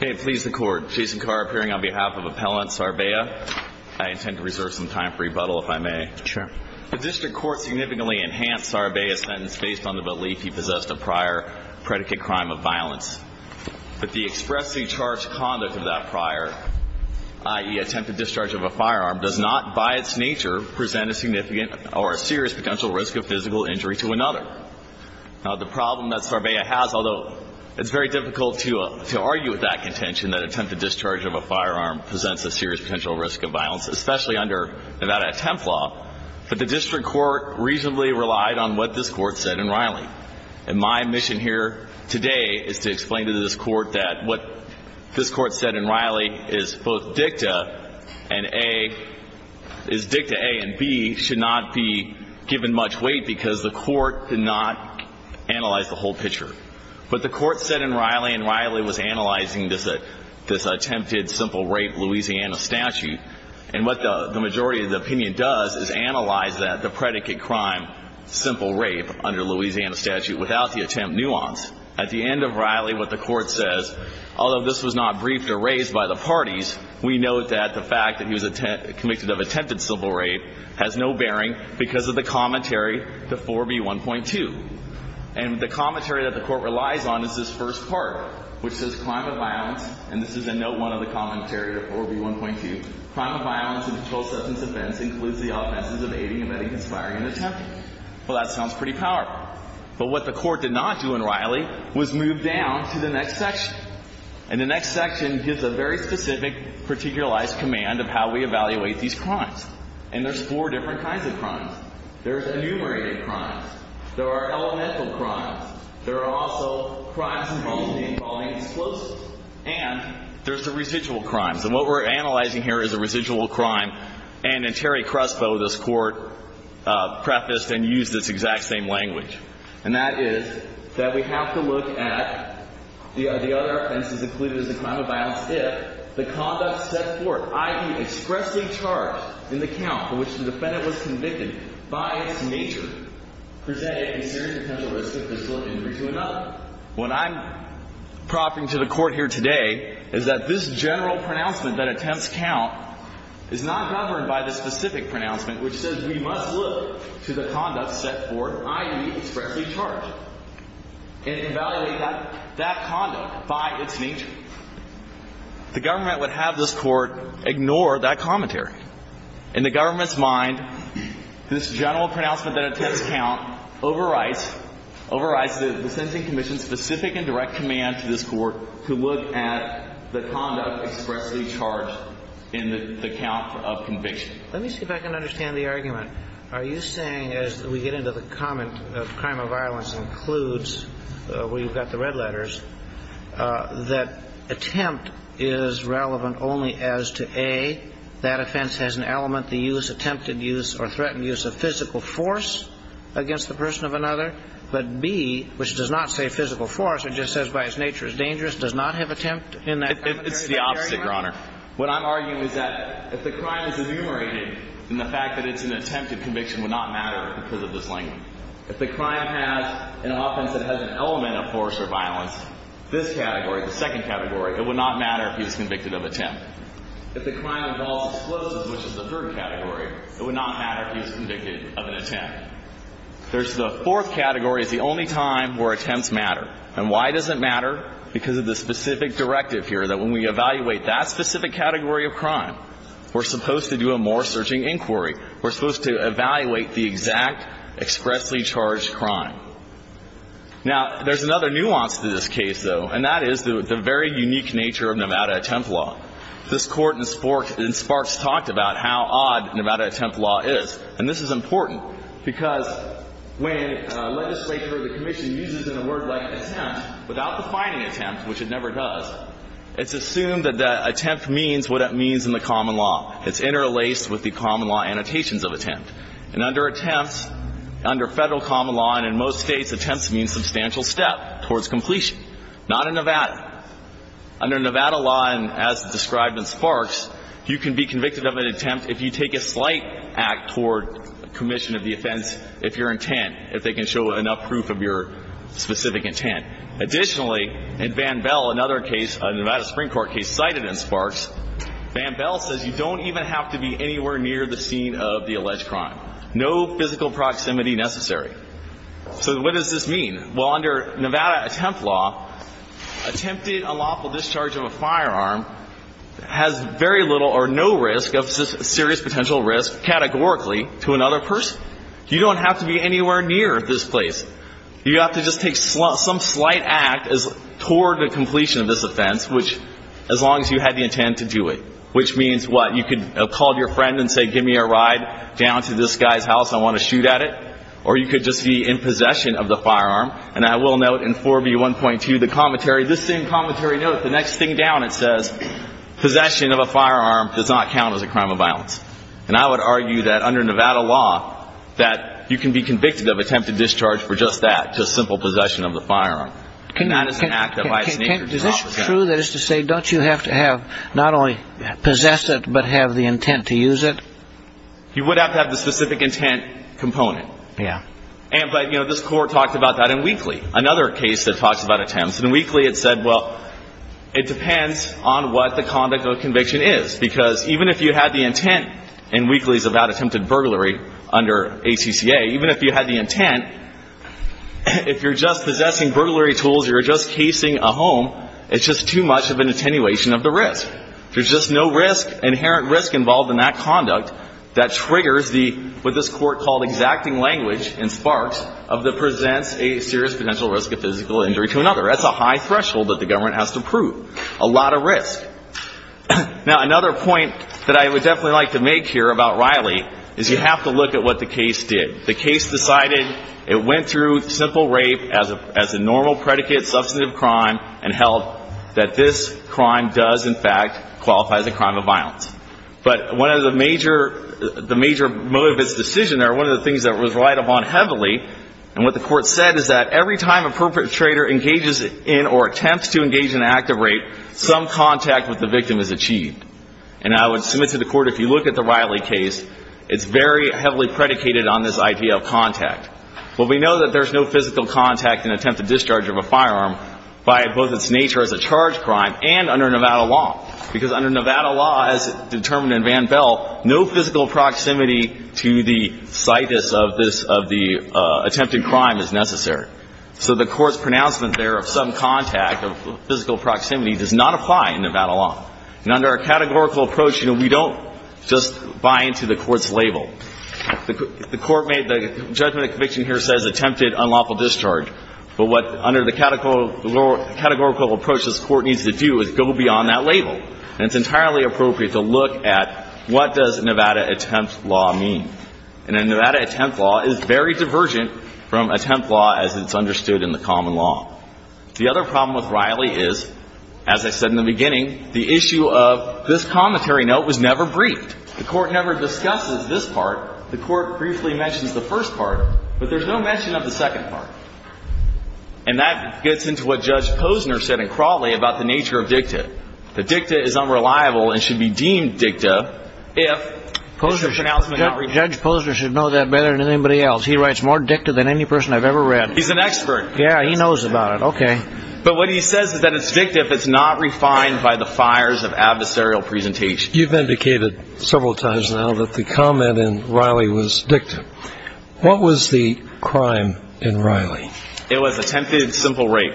May it please the Court, Jason Carr appearing on behalf of Appellant Sarbia. I intend to reserve some time for rebuttal, if I may. Sure. The District Court significantly enhanced Sarbia's sentence based on the belief he possessed a prior predicate crime of violence. But the expressly charged conduct of that prior, i.e., attempted discharge of a firearm, does not, by its nature, present a significant or a serious potential risk of physical injury to another. Now, the problem that Sarbia has, although it's very difficult to argue with that contention, that attempted discharge of a firearm presents a serious potential risk of violence, especially under Nevada Attempt Law, but the District Court reasonably relied on what this Court said in Riley. And my mission here today is to explain to this Court that what this Court said in Riley is both Dicta A and B should not be given much weight because the Court did not analyze the whole picture. But the Court said in Riley, and Riley was analyzing this attempted simple rape Louisiana statute, and what the majority of the opinion does is analyze the predicate crime, simple rape, under Louisiana statute, without the attempt nuance. At the end of Riley, what the Court says, although this was not briefed or raised by the parties, we note that the fact that he was convicted of attempted simple rape has no bearing because of the commentary to 4B1.2. And the commentary that the Court relies on is this first part, which says, crime of violence, and this is a note 1 of the commentary to 4B1.2, crime of violence and controlled substance offense includes the offenses of aiding, abetting, conspiring, and attempting. Well, that sounds pretty powerful. But what the Court did not do in Riley was move down to the next section. And the next section gives a very specific, particularized command of how we evaluate these crimes. And there's four different kinds of crimes. There's enumerated crimes. There are elemental crimes. There are also crimes involving explosives. And there's the residual crimes. And what we're analyzing here is a residual crime. And in Terry Crespo, this Court prefaced and used this exact same language, and that is that we have to look at the other offenses included as a crime of violence if the conduct set forth, i.e., expressly charged in the count for which the defendant was convicted, by its nature, presented a serious potential risk of physical injury to another. What I'm propping to the Court here today is that this general pronouncement that attempts count is not governed by the specific pronouncement which says we must look to the conduct set forth, i.e., expressly charged, and evaluate that conduct by its nature. The government would have this Court ignore that commentary. In the government's mind, this general pronouncement that attempts count overrides the sentencing commission's specific and direct command to this Court to look at the conduct expressly charged in the count of conviction. Let me see if I can understand the argument. Are you saying, as we get into the comment of crime of violence includes, where you've got the red letters, that attempt is relevant only as to, A, that offense has an element, the use, attempted use, or threatened use of physical force against the person of another, but, B, which does not say physical force, it just says by its nature is dangerous, does not have attempt in that. It's the opposite, Your Honor. What I'm arguing is that if the crime is enumerated, then the fact that it's an attempted conviction would not matter because of this language. If the crime has an offense that has an element of force or violence, this category, the second category, it would not matter if he was convicted of attempt. If the crime involves explosives, which is the third category, it would not matter if he was convicted of an attempt. There's the fourth category is the only time where attempts matter. And why does it matter? Because of the specific directive here that when we evaluate that specific category of crime, we're supposed to do a more searching inquiry. We're supposed to evaluate the exact expressly charged crime. Now, there's another nuance to this case, though, and that is the very unique nature of Nevada attempt law. This Court in Sparks talked about how odd Nevada attempt law is. And this is important because when legislature or the commission uses a word like attempt without defining attempt, which it never does, it's assumed that the attempt means what it means in the common law. It's interlaced with the common law annotations of attempt. And under attempts, under Federal common law and in most states, attempts mean substantial step towards completion. Not in Nevada. Under Nevada law and as described in Sparks, you can be convicted of an attempt if you take a slight act toward commission of the offense if your intent, if they can show enough proof of your specific intent. Additionally, in Van Bell, another case, a Nevada Supreme Court case cited in Sparks, Van Bell says you don't even have to be anywhere near the scene of the alleged crime. No physical proximity necessary. So what does this mean? Well, under Nevada attempt law, attempted unlawful discharge of a firearm has very little or no risk of serious potential risk categorically to another person. You don't have to be anywhere near this place. You have to just take some slight act toward the completion of this offense, which means what? You could have called your friend and say, give me a ride down to this guy's house. I want to shoot at it. Or you could just be in possession of the firearm. And I will note in 4B1.2, the commentary, this same commentary note, the next thing down, it says possession of a firearm does not count as a crime of violence. And I would argue that under Nevada law that you can be convicted of attempted discharge for just that, just simple possession of the firearm. And that is an act of vice nature. Is this true? That is to say, don't you have to have not only possess it, but have the intent to use it? You would have to have the specific intent component. Yeah. But this court talked about that in Wheatley, another case that talks about attempts. In Wheatley, it said, well, it depends on what the conduct of conviction is. Because even if you had the intent in Wheatley's about attempted burglary under ACCA, even if you had the intent, if you're just possessing burglary tools, you're just casing a home, it's just too much of an attenuation of the risk. There's just no risk, inherent risk involved in that conduct that triggers the, what this court called exacting language in Sparks, of the presents a serious potential risk of physical injury to another. That's a high threshold that the government has to prove. A lot of risk. Now, another point that I would definitely like to make here about Riley is you have to look at what the case did. The case decided it went through simple rape as a normal predicate, substantive crime, and held that this crime does, in fact, qualify as a crime of violence. But one of the major, the major motive of this decision there, one of the things that was relied upon heavily, and what the court said, is that every time a perpetrator engages in or attempts to engage in an act of rape, some contact with the victim is achieved. And I would submit to the court, if you look at the Riley case, it's very heavily predicated on this idea of contact. Well, we know that there's no physical contact in attempted discharge of a firearm by both its nature as a charged crime and under Nevada law, because under Nevada law, as determined in Van Bell, no physical proximity to the situs of this, of the attempted crime is necessary. So the court's pronouncement there of some contact, of physical proximity, does not apply in Nevada law. And under a categorical approach, you know, we don't just buy into the court's claim. The court made the judgment of conviction here says attempted unlawful discharge. But what under the categorical approach this court needs to do is go beyond that label. And it's entirely appropriate to look at what does Nevada attempt law mean. And a Nevada attempt law is very divergent from attempt law as it's understood in the common law. The other problem with Riley is, as I said in the beginning, the issue of this commentary note was never briefed. The court never discusses this part. The court briefly mentions the first part. But there's no mention of the second part. And that gets into what Judge Posner said in Crawley about the nature of dicta. That dicta is unreliable and should be deemed dicta if it's a pronouncement not refined. Judge Posner should know that better than anybody else. He writes more dicta than any person I've ever read. He's an expert. Yeah, he knows about it. Okay. But what he says is that it's dicta if it's not refined by the fires of adversarial presentation. You've indicated several times now that the comment in Riley was dicta. What was the crime in Riley? It was attempted simple rape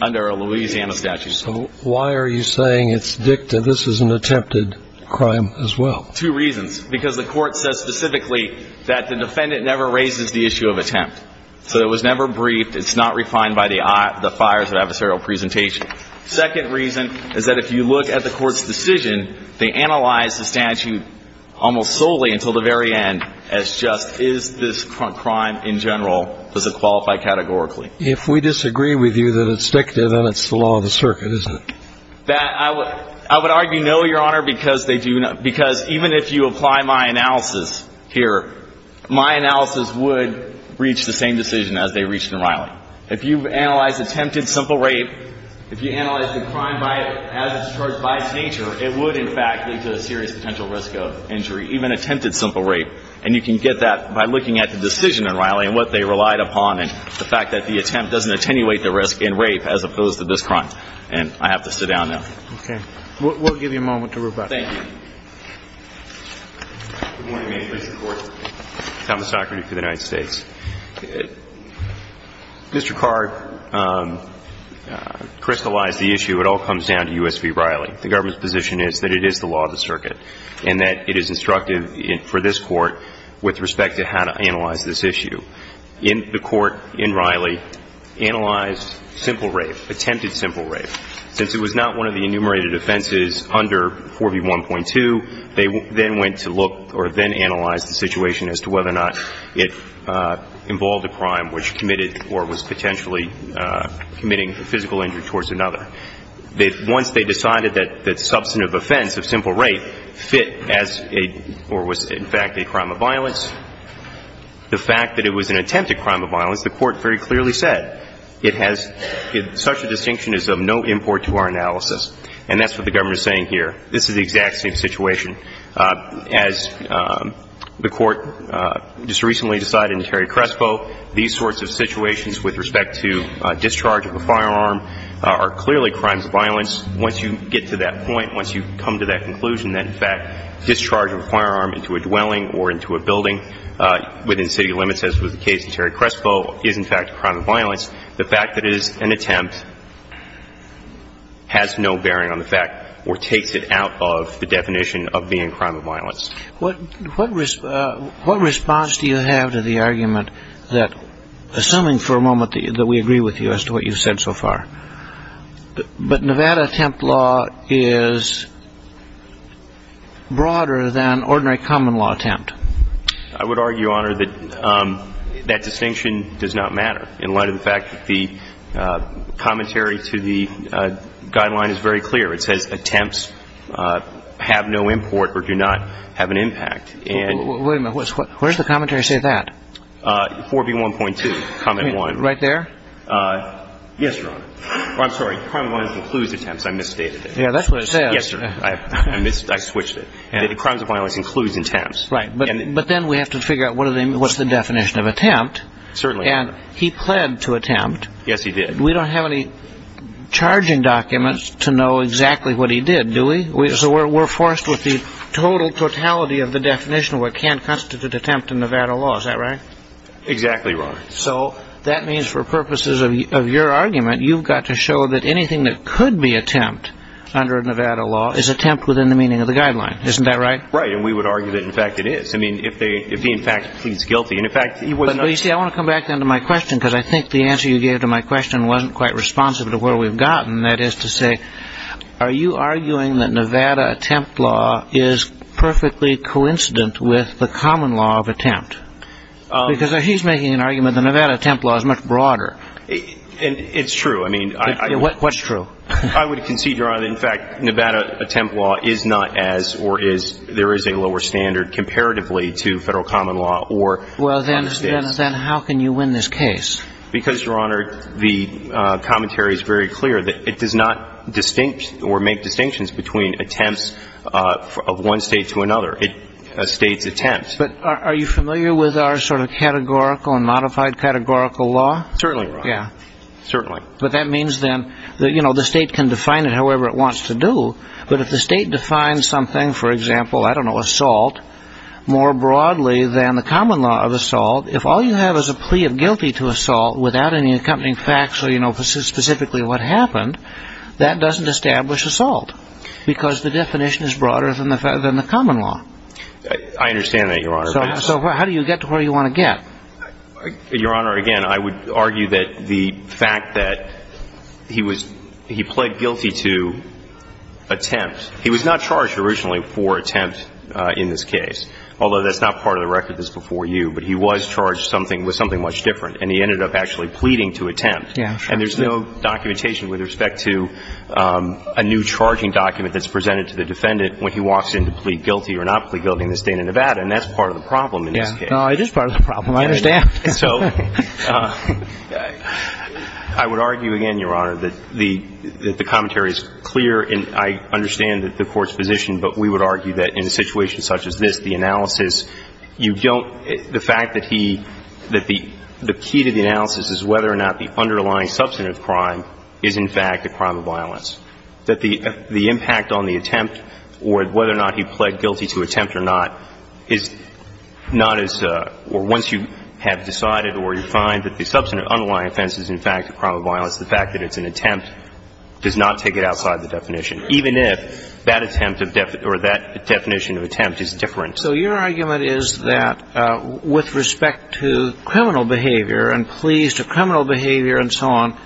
under a Louisiana statute. So why are you saying it's dicta? This is an attempted crime as well. Two reasons. Because the court says specifically that the defendant never raises the issue of attempt. So it was never briefed. It's not refined by the fires of adversarial presentation. Second reason is that if you look at the court's decision, they analyzed the statute almost solely until the very end as just is this crime in general, does it qualify categorically? If we disagree with you that it's dicta, then it's the law of the circuit, isn't it? I would argue no, Your Honor, because even if you apply my analysis here, my analysis would reach the same decision as they reached in Riley. If you analyze attempted simple rape, if you analyze the crime as it's charged by its nature, it would, in fact, lead to a serious potential risk of injury, even attempted simple rape. And you can get that by looking at the decision in Riley and what they relied upon and the fact that the attempt doesn't attenuate the risk in rape as opposed to this crime. And I have to sit down now. Okay. We'll give you a moment to rebut. Thank you. Good morning, Mr. Court. Thomas Docherty for the United States. Mr. Card crystallized the issue. It all comes down to U.S. v. Riley. The government's position is that it is the law of the circuit and that it is instructive for this Court with respect to how to analyze this issue. The Court in Riley analyzed simple rape, attempted simple rape. Since it was not one of the enumerated offenses under 4B1.2, they then went to look or then analyzed the situation as to whether or not it involved a crime which committed or was potentially committing a physical injury towards another. Once they decided that substantive offense of simple rape fit as a or was, in fact, a crime of violence, the fact that it was an attempted crime of violence, the Court very clearly said it has such a distinction as of no import to our analysis. And that's what the government is saying here. This is the exact same situation. As the Court just recently decided in Terry Crespo, these sorts of situations with respect to discharge of a firearm are clearly crimes of violence. Once you get to that point, once you come to that conclusion that, in fact, discharging a firearm into a dwelling or into a building within city limits, as was the case in Terry Crespo, is, in fact, a crime of violence, the fact that it is an attempt has no bearing on the fact or takes it out of the definition of being a crime of violence. What response do you have to the argument that, assuming for a moment that we agree with you as to what you've said so far, but Nevada attempt law is broader than ordinary common law attempt? I would argue, Honor, that that distinction does not matter in light of the fact that the commentary to the guideline is very clear. It says attempts have no import or do not have an impact. Wait a minute. Where does the commentary say that? 4B1.2, comment one. Right there? Yes, Your Honor. I'm sorry. Crime of violence includes attempts. I misstated it. Yeah, that's what it says. Yes, sir. I switched it. Crime of violence includes attempts. Right. But then we have to figure out what's the definition of attempt. Certainly. And he pled to attempt. Yes, he did. We don't have any charging documents to know exactly what he did, do we? So we're forced with the total totality of the definition of what can constitute attempt in Nevada law. Is that right? Exactly, Your Honor. So that means for purposes of your argument, you've got to show that anything that could be attempt under Nevada law is attempt within the meaning of the guideline. Isn't that right? Right. And we would argue that, in fact, it is. I mean, if he, in fact, pleads guilty. But, you see, I want to come back then to my question, because I think the answer you gave to my question wasn't quite responsive to where we've gotten. That is to say, are you arguing that Nevada attempt law is perfectly coincident with the common law of attempt? Because he's making an argument that Nevada attempt law is much broader. It's true. What's true? I would concede, Your Honor, that, in fact, Nevada attempt law is not as, or there is a lower standard comparatively to federal common law. Well, then how can you win this case? Because, Your Honor, the commentary is very clear. It does not distinct or make distinctions between attempts of one state to another, a state's attempt. But are you familiar with our sort of categorical and modified categorical law? Certainly, Your Honor. Yeah. Certainly. But that means, then, that, you know, the state can define it however it wants to do. But if the state defines something, for example, I don't know, assault, more broadly than the common law of assault, if all you have is a plea of guilty to assault without any accompanying facts so you know specifically what happened, that doesn't establish assault because the definition is broader than the common law. I understand that, Your Honor. So how do you get to where you want to get? Your Honor, again, I would argue that the fact that he was, he pled guilty to attempt. He was not charged originally for attempt in this case, although that's not part of the record that's before you. But he was charged with something much different, and he ended up actually pleading to attempt. Yeah, sure. And there's no documentation with respect to a new charging document that's presented to the defendant when he walks in to plead guilty or not plead guilty in the State of Nevada. And that's part of the problem in this case. No, it is part of the problem. I understand. So I would argue again, Your Honor, that the commentary is clear, and I understand that the Court's position, but we would argue that in a situation such as this, the analysis, you don't, the fact that he, that the key to the analysis is whether or not the underlying substantive crime is, in fact, a crime of violence. That the impact on the attempt or whether or not he pled guilty to attempt or not is not as, or once you have decided or you find that the substantive underlying offense is, in fact, a crime of violence, the fact that it's an attempt does not take it outside the definition, even if that attempt or that definition of attempt is different. So your argument is that with respect to criminal behavior and pleas to criminal behavior and so on,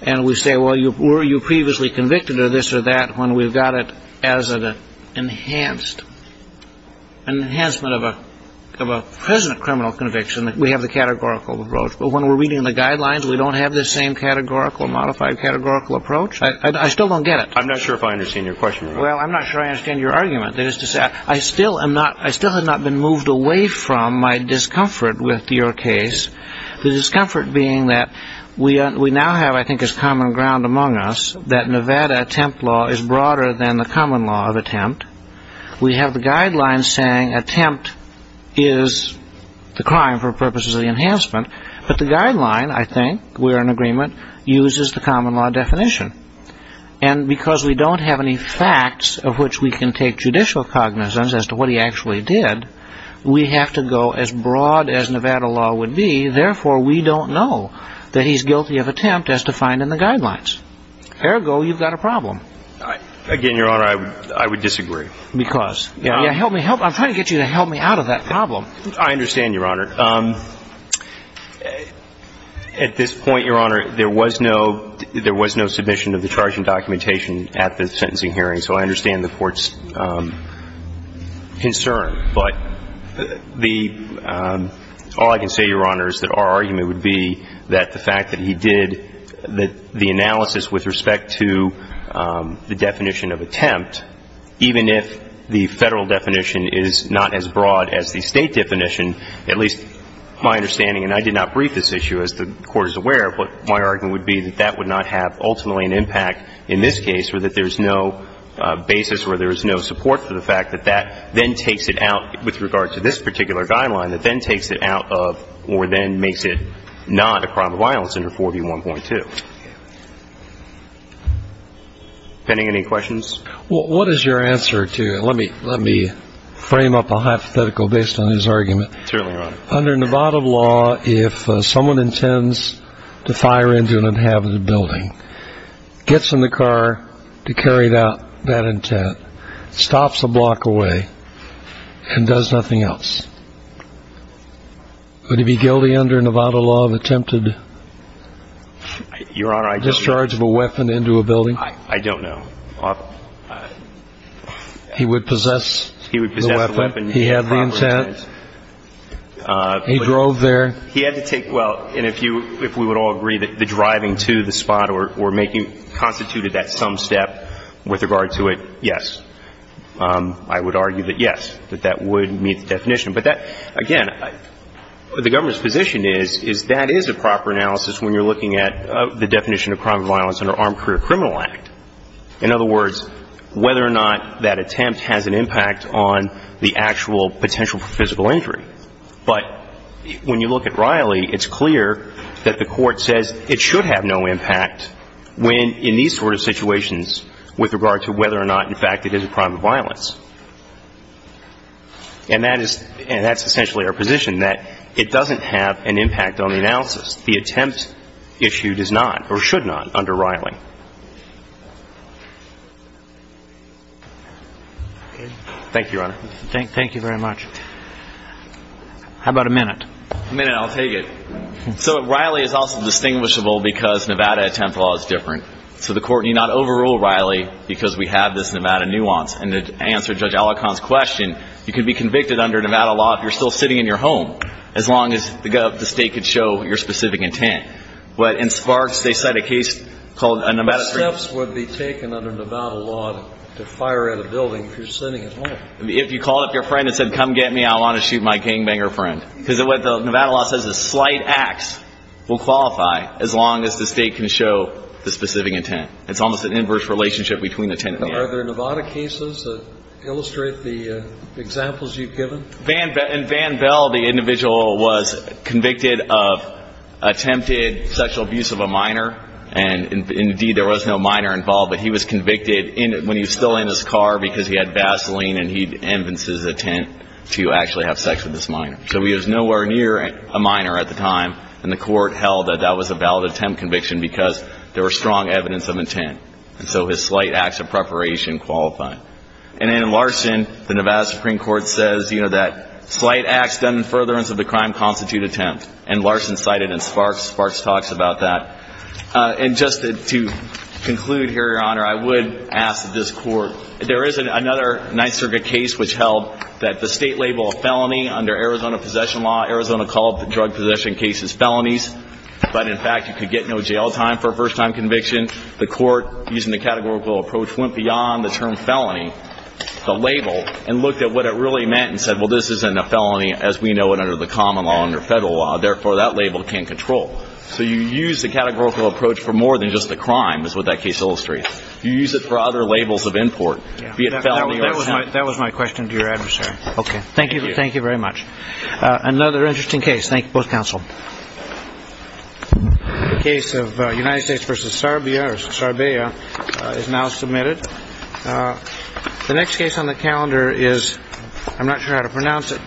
and we say, well, were you previously convicted of this or that, when we've got it as an enhanced, an enhancement of a present criminal conviction, we have the categorical approach. But when we're reading the guidelines, we don't have the same categorical, modified categorical approach. I still don't get it. I'm not sure if I understand your question, Your Honor. Well, I'm not sure I understand your argument. That is to say, I still am not, I still have not been moved away from my discomfort with your case, the discomfort being that we now have, I think, as common ground among us, that Nevada attempt law is broader than the common law of attempt. We have the guidelines saying attempt is the crime for purposes of the enhancement, but the guideline, I think, we're in agreement, uses the common law definition. And because we don't have any facts of which we can take judicial cognizance as to what he actually did, we have to go as broad as Nevada law would be. Therefore, we don't know that he's guilty of attempt as defined in the guidelines. Ergo, you've got a problem. Again, Your Honor, I would disagree. Because? Yeah, help me help. I'm trying to get you to help me out of that problem. I understand, Your Honor. At this point, Your Honor, there was no submission of the charging documentation at the sentencing hearing, so I understand the Court's concern. But all I can say, Your Honor, is that our argument would be that the fact that he did the analysis with respect to the definition of attempt, even if the Federal definition is not as broad as the State definition, at least my understanding, and I did not brief this issue, as the Court is aware, my argument would be that that would not have ultimately an impact in this case or that there's no basis or there's no support for the fact that that then takes it out with regard to this particular guideline, that then takes it out of or then makes it not a crime of violence under 4B1.2. Penning, any questions? Well, what is your answer to, let me frame up a hypothetical based on his argument. Certainly, Your Honor. Under Nevada law, if someone intends to fire into an inhabited building, gets in the car to carry that intent, stops a block away and does nothing else, would he be guilty under Nevada law of attempted discharge of a weapon into a building? I don't know. He would possess the weapon. He had the intent. He drove there. He had to take, well, and if you, if we would all agree that the driving to the spot or making, constituted that some step with regard to it, yes. I would argue that yes, that that would meet the definition. But that, again, the government's position is that is a proper analysis when you're looking at the definition of crime of violence under Armed Career Criminal Act. In other words, whether or not that attempt has an impact on the actual potential for physical injury. But when you look at Riley, it's clear that the Court says it should have no impact when, in these sort of situations, with regard to whether or not, in fact, it is a crime of violence. And that is, and that's essentially our position, that it doesn't have an impact on the analysis. The attempt issue does not or should not under Riley. Thank you, Your Honor. Thank you very much. How about a minute? A minute, I'll take it. So Riley is also distinguishable because Nevada attempt law is different. So the Court need not overrule Riley because we have this Nevada nuance. And to answer Judge Alicon's question, you could be convicted under Nevada law if you're still sitting in your home, as long as the state could show your specific intent. But in Sparks, they cite a case called a Nevada case. But steps would be taken under Nevada law to fire at a building if you're sitting at home. If you called up your friend and said, come get me, I want to shoot my gangbanger friend. Because what the Nevada law says is slight acts will qualify as long as the state can show the specific intent. It's almost an inverse relationship between the intent and the law. Are there Nevada cases that illustrate the examples you've given? In Van Bell, the individual was convicted of attempted sexual abuse of a minor. And, indeed, there was no minor involved. But he was convicted when he was still in his car because he had Vaseline and he evidenced his intent to actually have sex with this minor. So he was nowhere near a minor at the time. And the Court held that that was a valid attempt conviction because there was strong evidence of intent. And so his slight acts of preparation qualified. And in Larson, the Nevada Supreme Court says, you know, that slight acts done in furtherance of the crime constitute attempt. And Larson cited it in Sparks. Sparks talks about that. And just to conclude here, Your Honor, I would ask that this Court, there is another Ninth Circuit case which held that the state labeled a felony under Arizona possession law. Arizona called drug possession cases felonies. But, in fact, you could get no jail time for a first-time conviction. The Court, using the categorical approach, went beyond the term felony, the label, and looked at what it really meant and said, well, this isn't a felony, as we know it, under the common law, under federal law. Therefore, that label can't control. So you use the categorical approach for more than just the crime, as would that case illustrate. You use it for other labels of import, be it felony or not. That was my question to your adversary. Okay. Thank you. Thank you very much. Another interesting case. Thank you, both counsel. The case of United States versus Serbia is now submitted. The next case on the calendar is I'm not sure how to pronounce it. Gomez.